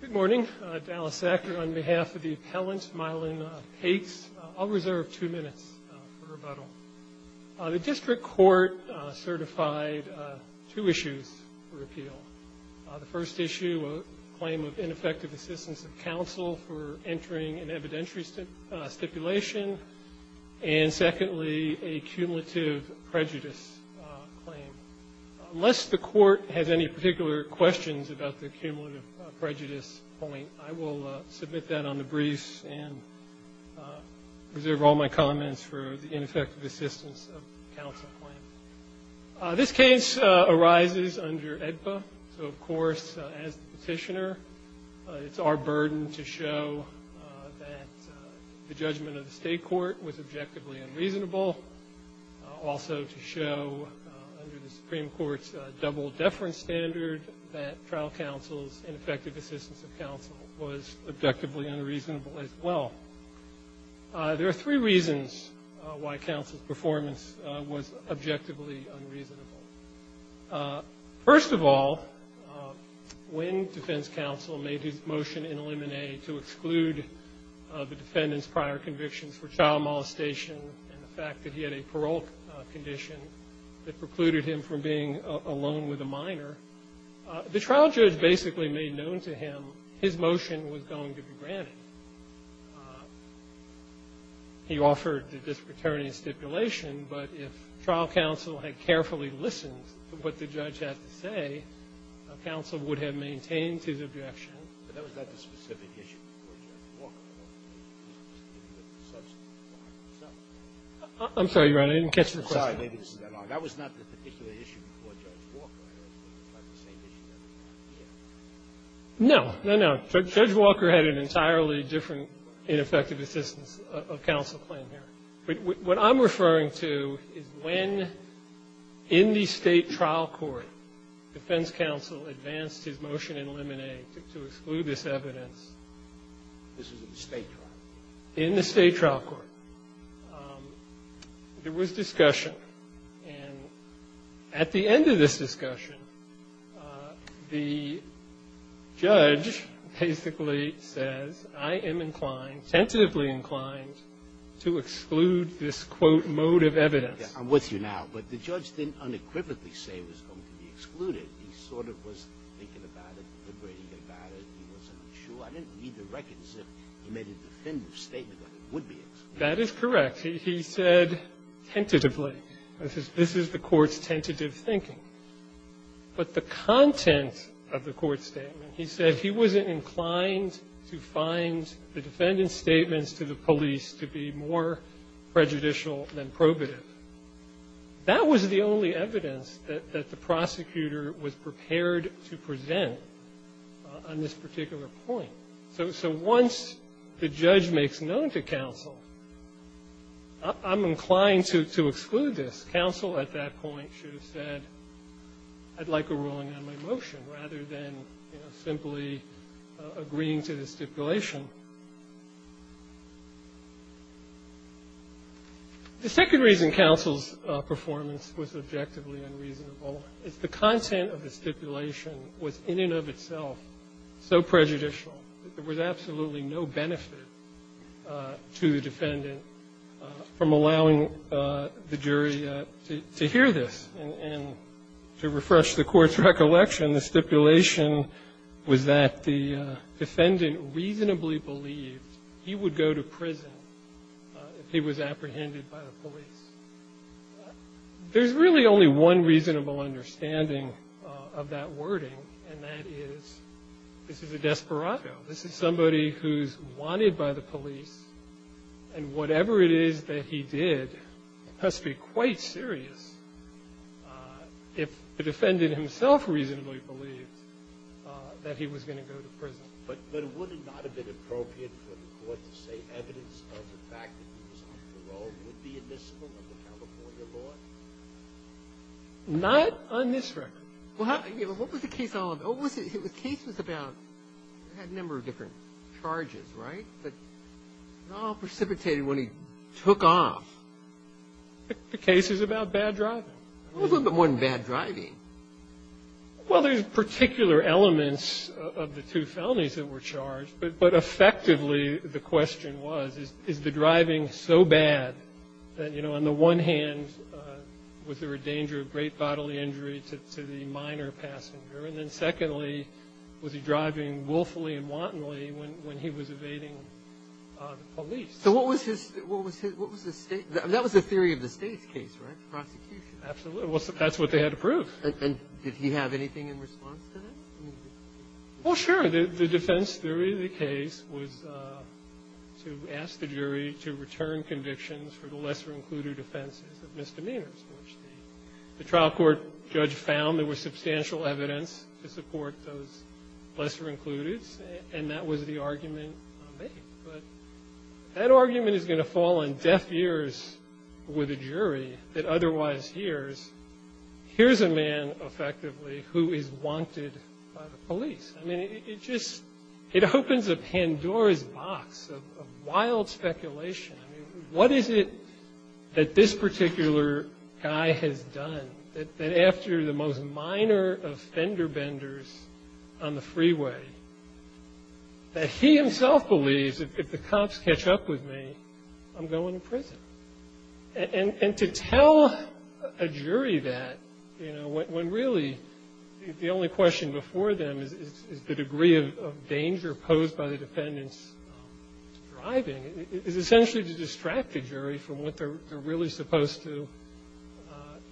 Good morning. Dallas Sackler on behalf of the appellant, Mylon Pakes. I'll reserve two minutes for rebuttal. The district court certified two issues for appeal. The first issue, a claim of ineffective assistance of counsel for entering an evidentiary stipulation, and secondly, a cumulative prejudice claim. Unless the court has any particular questions about the cumulative prejudice point, I will submit that on the briefs and reserve all my comments for the ineffective assistance of counsel claim. This case arises under AEDPA. So, of course, as the petitioner, it's our burden to show that the judgment of the state court was objectively unreasonable, also to show under the Supreme Court's double-deference standard that trial counsel's ineffective assistance of counsel was objectively unreasonable as well. There are three reasons why counsel's performance was objectively unreasonable. First of all, when defense counsel made his motion in limine to exclude the defendant's prior convictions for trial molestation and the fact that he had a parole condition that precluded him from being alone with a minor, the trial judge basically made known to him his motion was going to be granted. He offered the dispraternity stipulation, but if trial counsel had carefully listened to what the judge had to say, counsel would have maintained his objection. I'm sorry, Your Honor. I didn't catch the question. No, no, no. Judge Walker had an entirely different ineffective assistance of counsel claim here. What I'm referring to is when, in the State trial court, defense counsel advanced his motion in limine to exclude this evidence in the State trial court. There was discussion, and at the end of this discussion, the judge basically says, I am inclined, tentatively inclined, to exclude this, quote, mode of evidence. I'm with you now. But the judge didn't unequivocally say it was going to be excluded. He sort of was thinking about it, deliberating about it. He wasn't sure. I didn't read the records. He made a definitive statement that it would be excluded. That is correct. He said tentatively. This is the Court's tentative thinking. But the content of the Court's statement, he said he wasn't inclined to find the defendant's statements to the police to be more prejudicial than probative. That was the only evidence that the prosecutor was prepared to present on this particular point. So once the judge makes known to counsel, I'm inclined to exclude this. Counsel at that point should have said, I'd like a ruling on my motion, rather than, you know, simply agreeing to the stipulation. The second reason counsel's performance was objectively unreasonable is the content of the stipulation was in and of itself so prejudicial that there was absolutely no benefit to the defendant from allowing the jury to hear this. And to refresh the Court's recollection, the stipulation was that the defendant reasonably believed he would go to prison if he was apprehended by the police. There's really only one reasonable understanding of that wording, and that is this is a desperado. This is somebody who's wanted by the police, and whatever it is that he did must be quite serious if the defendant himself reasonably believed that he was going to go to prison. But would it not have been appropriate for the Court to say evidence of the fact that he was on parole would be admissible under California law? Not on this record. Well, what was the case all about? The case was about he had a number of different charges, right? But it all precipitated when he took off. The case is about bad driving. A little bit more than bad driving. Well, there's particular elements of the two felonies that were charged, but effectively the question was, is the driving so bad that, you know, on the one hand, was there a danger of great bodily injury to the minor passenger? And then secondly, was he driving willfully and wantonly when he was evading the police? So what was his state? That was the theory of the State's case, right, prosecution? Absolutely. That's what they had to prove. And did he have anything in response to that? Well, sure. The defense theory of the case was to ask the jury to return convictions for the lesser-included offenses of misdemeanors, which the trial court judge found there was substantial evidence to support those lesser-included, and that was the argument made. But that argument is going to fall on deaf ears with a jury that otherwise hears, here's a man, effectively, who is wanted by the police. I mean, it just opens a Pandora's box of wild speculation. I mean, what is it that this particular guy has done that after the most minor offender benders on the freeway that he himself believes, if the cops catch up with me, I'm going to prison? And to tell a jury that, you know, when really the only question before them is the degree of danger posed by the defendant's driving, is essentially to distract the jury from what they're really supposed to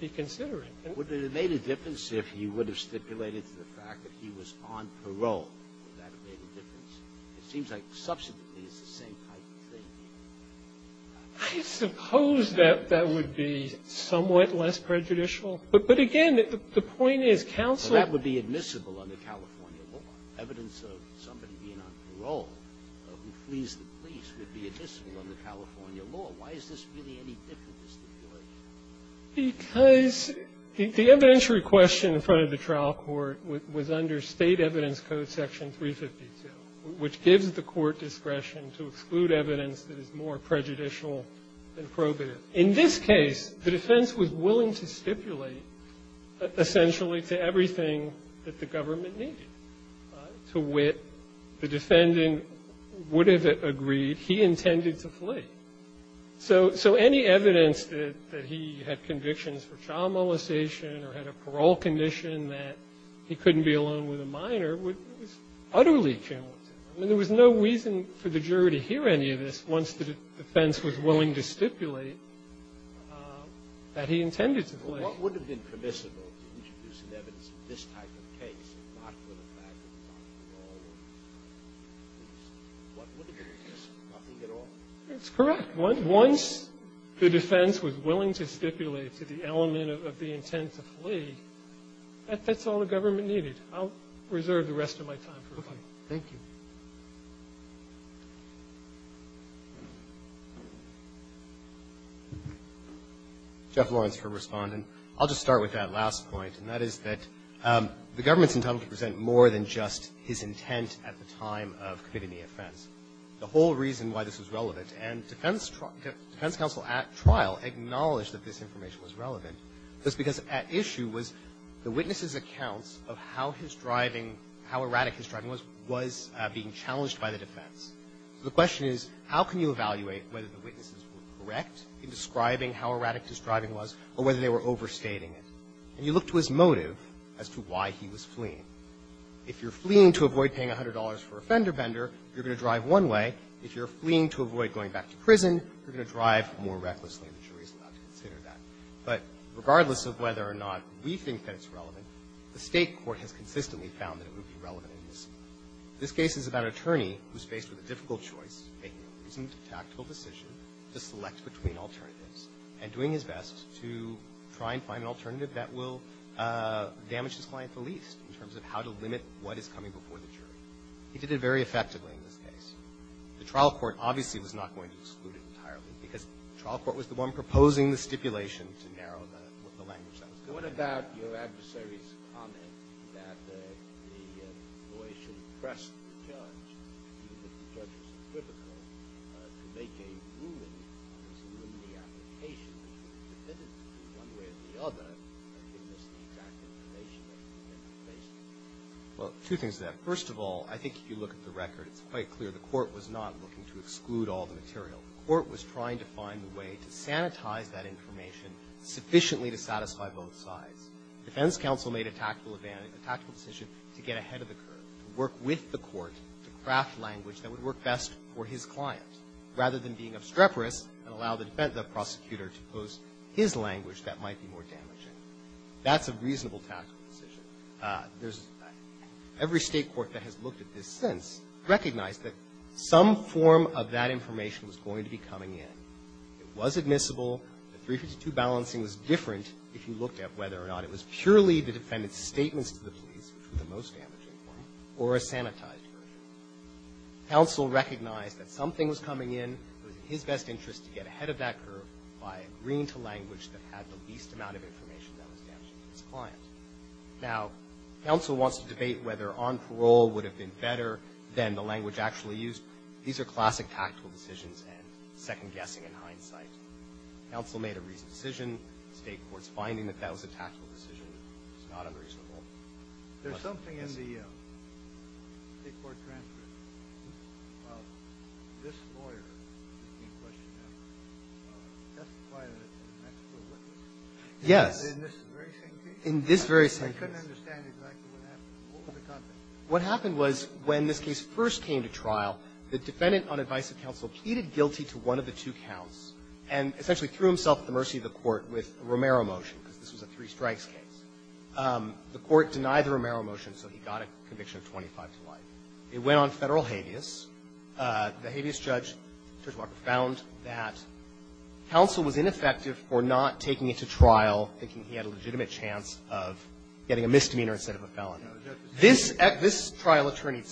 be considering. Would it have made a difference if he would have stipulated to the fact that he was on parole? Would that have made a difference? It seems like substantively it's the same type of thing. I suppose that that would be somewhat less prejudicial, but again, the point is counsel So that would be admissible under California law, evidence of somebody being on parole who flees the police would be admissible under California law. Why is this really any different than stipulation? Because the evidentiary question in front of the trial court was under State Evidence Code Section 352, which gives the court discretion to exclude evidence that is more prejudicial than probative. In this case, the defense was willing to stipulate essentially to everything that the government needed. To wit, the defendant would have agreed he intended to flee. So any evidence that he had convictions for child molestation or had a parole condition that he couldn't be alone with a minor was utterly counterintuitive. I mean, there was no reason for the jury to hear any of this once the defense was willing to stipulate that he intended to flee. Well, what would have been permissible to introduce an evidence in this type of case not for the fact that he was on parole? What would have been permissible? Nothing at all? That's correct. Once the defense was willing to stipulate to the element of the intent to flee, that's all the government needed. I'll reserve the rest of my time for rebuttal. Roberts. Thank you. Jeff Lawrence for Respondent. I'll just start with that last point, and that is that the government's entitlement to present more than just his intent at the time of committing the offense. The whole reason why this was relevant, and defense counsel at trial acknowledged that this information was relevant, was because at issue was the witness's accounts of how his driving, how erratic his driving was, was being challenged by the defense. So the question is, how can you evaluate whether the witnesses were correct in describing how erratic his driving was or whether they were overstating it? And you look to his motive as to why he was fleeing. If you're fleeing to avoid paying $100 for a fender bender, you're going to drive one way. If you're fleeing to avoid going back to prison, you're going to drive more recklessly, and the jury's allowed to consider that. But regardless of whether or not we think that it's relevant, the State court has consistently found that it would be relevant in this case. This case is about an attorney who's faced with a difficult choice, making a reasoned, tactful decision to select between alternatives, and doing his best to try and find an alternative that will damage his client the least in terms of how to limit what is coming before the jury. He did it very effectively in this case. The trial court obviously was not going to exclude it entirely, because the trial court was the one proposing the stipulation to narrow the language that was going Well, two things to that. First of all, I think if you look at the record, it's quite clear the court was not looking to exclude all the material. The court was trying to find a way to sanitize that information sufficiently to satisfy both sides. Defense counsel made a tactful decision to get ahead of the curve, to work with the court, to craft language that would work best for his client, rather than being obstreperous and allow the prosecutor to pose his language that might be more damaging. That's a reasonable tactical decision. Every State court that has looked at this since recognized that some form of that information was going to be coming in. It was admissible. The 352 balancing was different if you looked at whether or not it was purely the defendant's statements to the police, which were the most damaging, or a sanitized version. Counsel recognized that something was coming in. It was in his best interest to get ahead of that curve by agreeing to language that had the least amount of information that was damaging to his client. Now, counsel wants to debate whether on parole would have been better than the language actually used. These are classic tactical decisions and second guessing in hindsight. Counsel made a reasonable decision. The State court's finding that that was a tactical decision is not unreasonable. Kennedy. There's something in the State court transcript of this lawyer asking the question now. Well, testify that it's an actual witness. Gershengorn Yes. Kennedy. In this very same case? Gershengorn In this very same case. Kennedy. I couldn't understand exactly what happened. What was the content? Gershengorn What happened was when this case first came to trial, the defendant on advice of counsel pleaded guilty to one of the two counts and essentially threw himself at the mercy of the court with a Romero motion, because this was a three-strikes case. The court denied the Romero motion, so he got a conviction of 25 to life. It went on Federal habeas. The habeas judge, Judge Walker, found that counsel was ineffective for not taking it to trial, thinking he had a legitimate chance of getting a misdemeanor instead of a felon. This trial attorney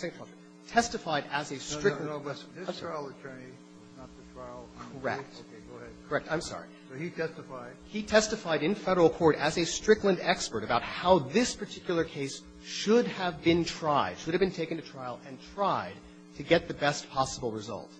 testified as a stricter. Kennedy This trial attorney was not the trial attorney. Gershengorn Correct. Kennedy Okay. Go ahead. Gershengorn Correct. I'm sorry. Kennedy So he testified. Gershengorn He testified in Federal court as a Strickland expert about how this particular case should have been tried, should have been taken to trial and tried to get the best possible result.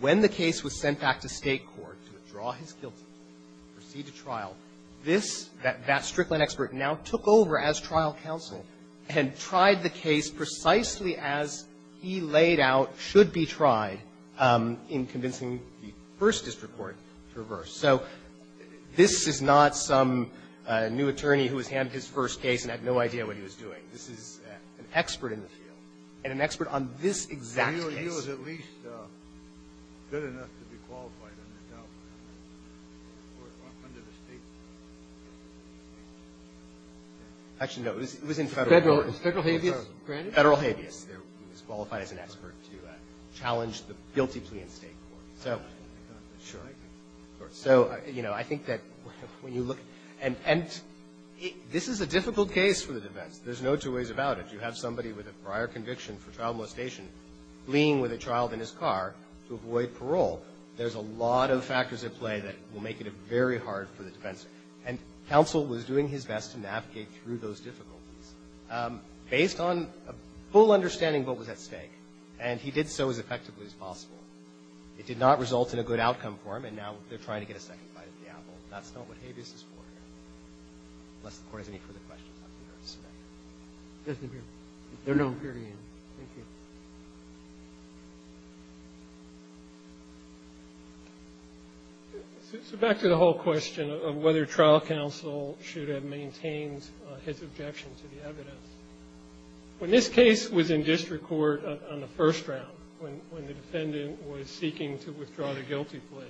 When the case was sent back to State court to withdraw his guilt and proceed to trial, this, that Strickland expert now took over as trial counsel and tried the case precisely as he laid out should be tried in convincing the first district court to reverse. So this is not some new attorney who was handed his first case and had no idea what he was doing. This is an expert in the field and an expert on this exact case. Kennedy So he was at least good enough to be qualified under the State court? Gershengorn Actually, no. It was in Federal court. Kennedy Federal habeas granted? Gershengorn Federal habeas. He was qualified as an expert to challenge the guilty plea in State court. So, sure. So, you know, I think that when you look and this is a difficult case for the defense. There's no two ways about it. You have somebody with a prior conviction for child molestation fleeing with a child in his car to avoid parole. There's a lot of factors at play that will make it very hard for the defense. And counsel was doing his best to navigate through those difficulties. Based on a full understanding of what was at stake. And he did so as effectively as possible. It did not result in a good outcome for him. And now they're trying to get a second bite at the apple. That's not what habeas is for here. Unless the Court has any further questions, I'm here to suspend. Roberts They're no longer here. Thank you. So back to the whole question of whether trial counsel should have maintained his objection to the evidence. When this case was in district court on the first round, when the defendant was seeking to withdraw the guilty plea,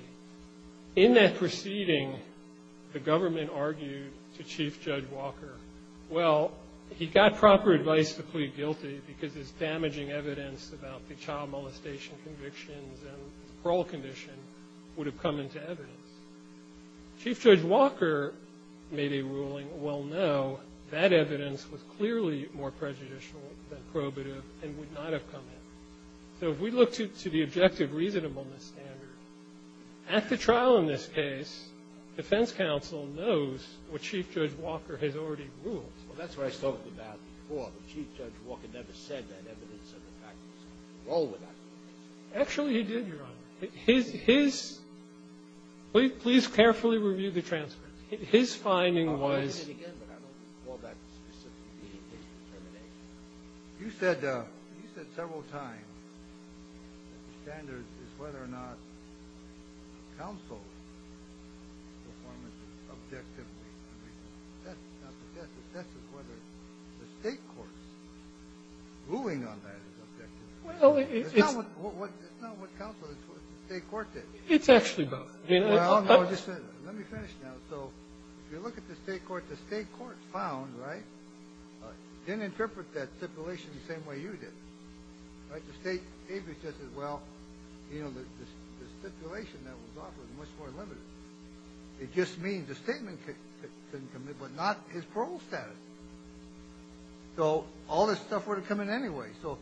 in that proceeding, the government argued to Chief Judge Walker, well, he got proper advice to plead guilty because his damaging evidence about the child molestation convictions and parole condition would have come into evidence. Chief Judge Walker made a ruling, well, no, that evidence was clearly more prejudicial than probative and would not have come in. So if we look to the objective reasonableness standard, at the trial in this case, defense counsel knows what Chief Judge Walker has already ruled. Scalia Well, that's what I talked about before. But Chief Judge Walker never said that evidence of the fact was wrong with that. Actually, he did, Your Honor. His -- his -- please carefully review the transcript. His finding was -- Scalia I'll read it again, but I don't know that specific determination. You said several times that the standard is whether or not counsel's performance is objectively. I mean, that's not the test. The test is whether the State court's ruling on that is objectively. Well, it's- Scalia It's not what counsel, it's what the State court did. Gershengorn It's actually both, Your Honor. Scalia Well, no, let me finish now. So if you look at the State court, the State court found, right, didn't interpret that stipulation the same way you did. Right? The State just said, well, you know, the stipulation that was offered was much more limited. It just means the statement didn't commit, but not his parole status. So all this stuff would have come in anyway. So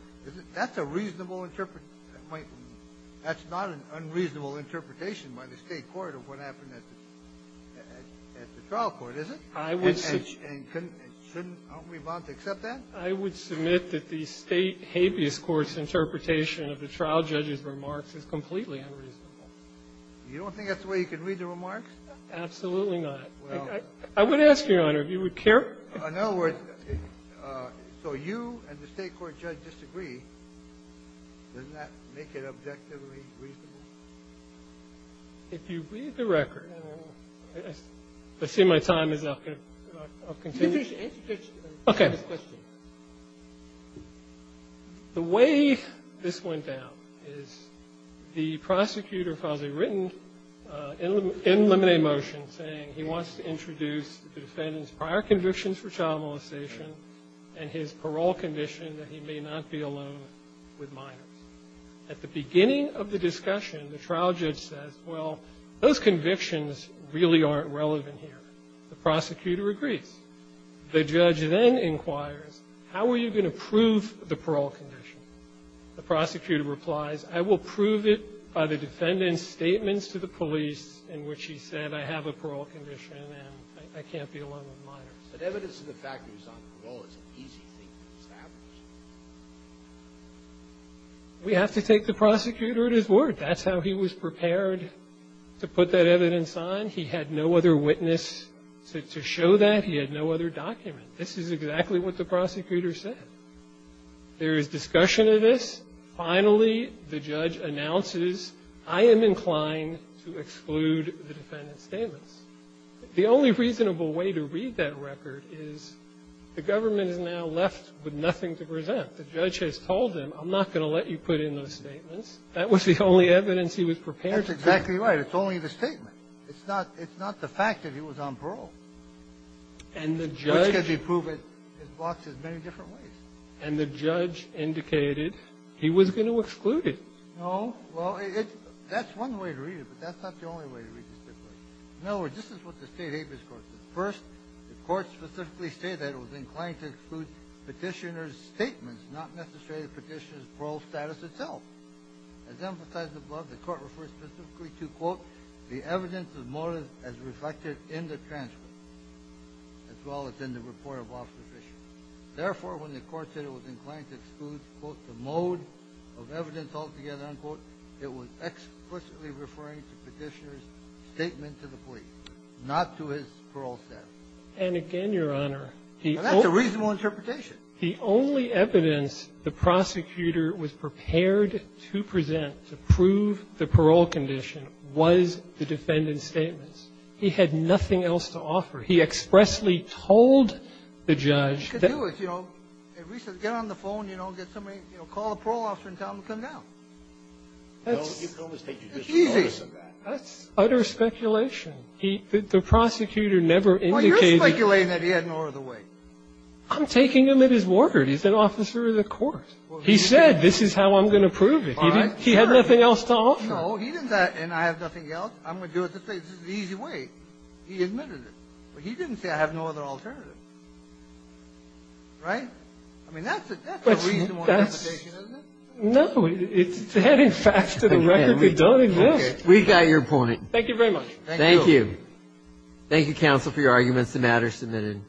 that's a reasonable interpretation. That's not an unreasonable interpretation by the State court of what happened at the trial court, is it? And shouldn't we be bound to accept that? Gershengorn I would submit that the State habeas court's interpretation of the trial judge's remarks is completely unreasonable. Scalia You don't think that's the way you can read the remarks? Gershengorn Absolutely not. I would ask, Your Honor, if you would care- Scalia So you and the State court judge disagree, doesn't that make it objectively reasonable? Gershengorn If you read the record, and I see my time is up, I'll continue. Okay. The way this went down is the prosecutor filed a written in limine motion saying he wants to introduce the defendant's prior convictions for child molestation and his parole condition that he may not be alone with minors. At the beginning of the discussion, the trial judge says, well, those convictions really aren't relevant here. The prosecutor agrees. The judge then inquires, how are you going to prove the parole condition? The prosecutor replies, I will prove it by the defendant's statements to the police in which he said I have a parole condition and I can't be alone with minors. But evidence of the fact that he's on parole is an easy thing to establish. We have to take the prosecutor at his word. That's how he was prepared to put that evidence on. He had no other witness to show that. He had no other document. This is exactly what the prosecutor said. There is discussion of this. The only reasonable way to read that record is the government is now left with nothing to present. The judge has told him, I'm not going to let you put in those statements. That was the only evidence he was prepared to put in. That's exactly right. It's only the statement. It's not the fact that he was on parole. And the judge can prove it in as many different ways. And the judge indicated he was going to exclude it. No. Well, that's one way to read it, but that's not the only way to read it. In other words, this is what the state habeas court says. First, the court specifically stated that it was inclined to exclude petitioner's statements, not necessarily the petitioner's parole status itself. As emphasized above, the court refers specifically to, quote, the evidence of motive as reflected in the transcript, as well as in the report of office issued. Therefore, when the court said it was inclined to exclude, quote, the mode of evidence altogether, unquote, it was explicitly referring to petitioner's statement to the police, not to his parole status. And again, Your Honor, he only --. Now, that's a reasonable interpretation. The only evidence the prosecutor was prepared to present to prove the parole condition was the defendant's statements. He had nothing else to offer. He expressly told the judge that --- He could do it, you know. If we said, get on the phone, you know, get somebody, you know, call a parole officer and tell him to come down. That's easy. That's utter speculation. He -- the prosecutor never indicated- Well, you're speculating that he had no other way. I'm taking him at his word. He's an officer of the court. He said, this is how I'm going to prove it. All right. He had nothing else to offer. No, he didn't say, and I have nothing else. I'm going to do it this way. This is the easy way. He admitted it. But he didn't say, I have no other alternative. Right? I mean, that's a reasonable expectation, isn't it? No. It's heading fast to the record. We don't exist. We've got your point. Thank you very much. Thank you. Thank you. Thank you, counsel, for your arguments. The matter is submitted.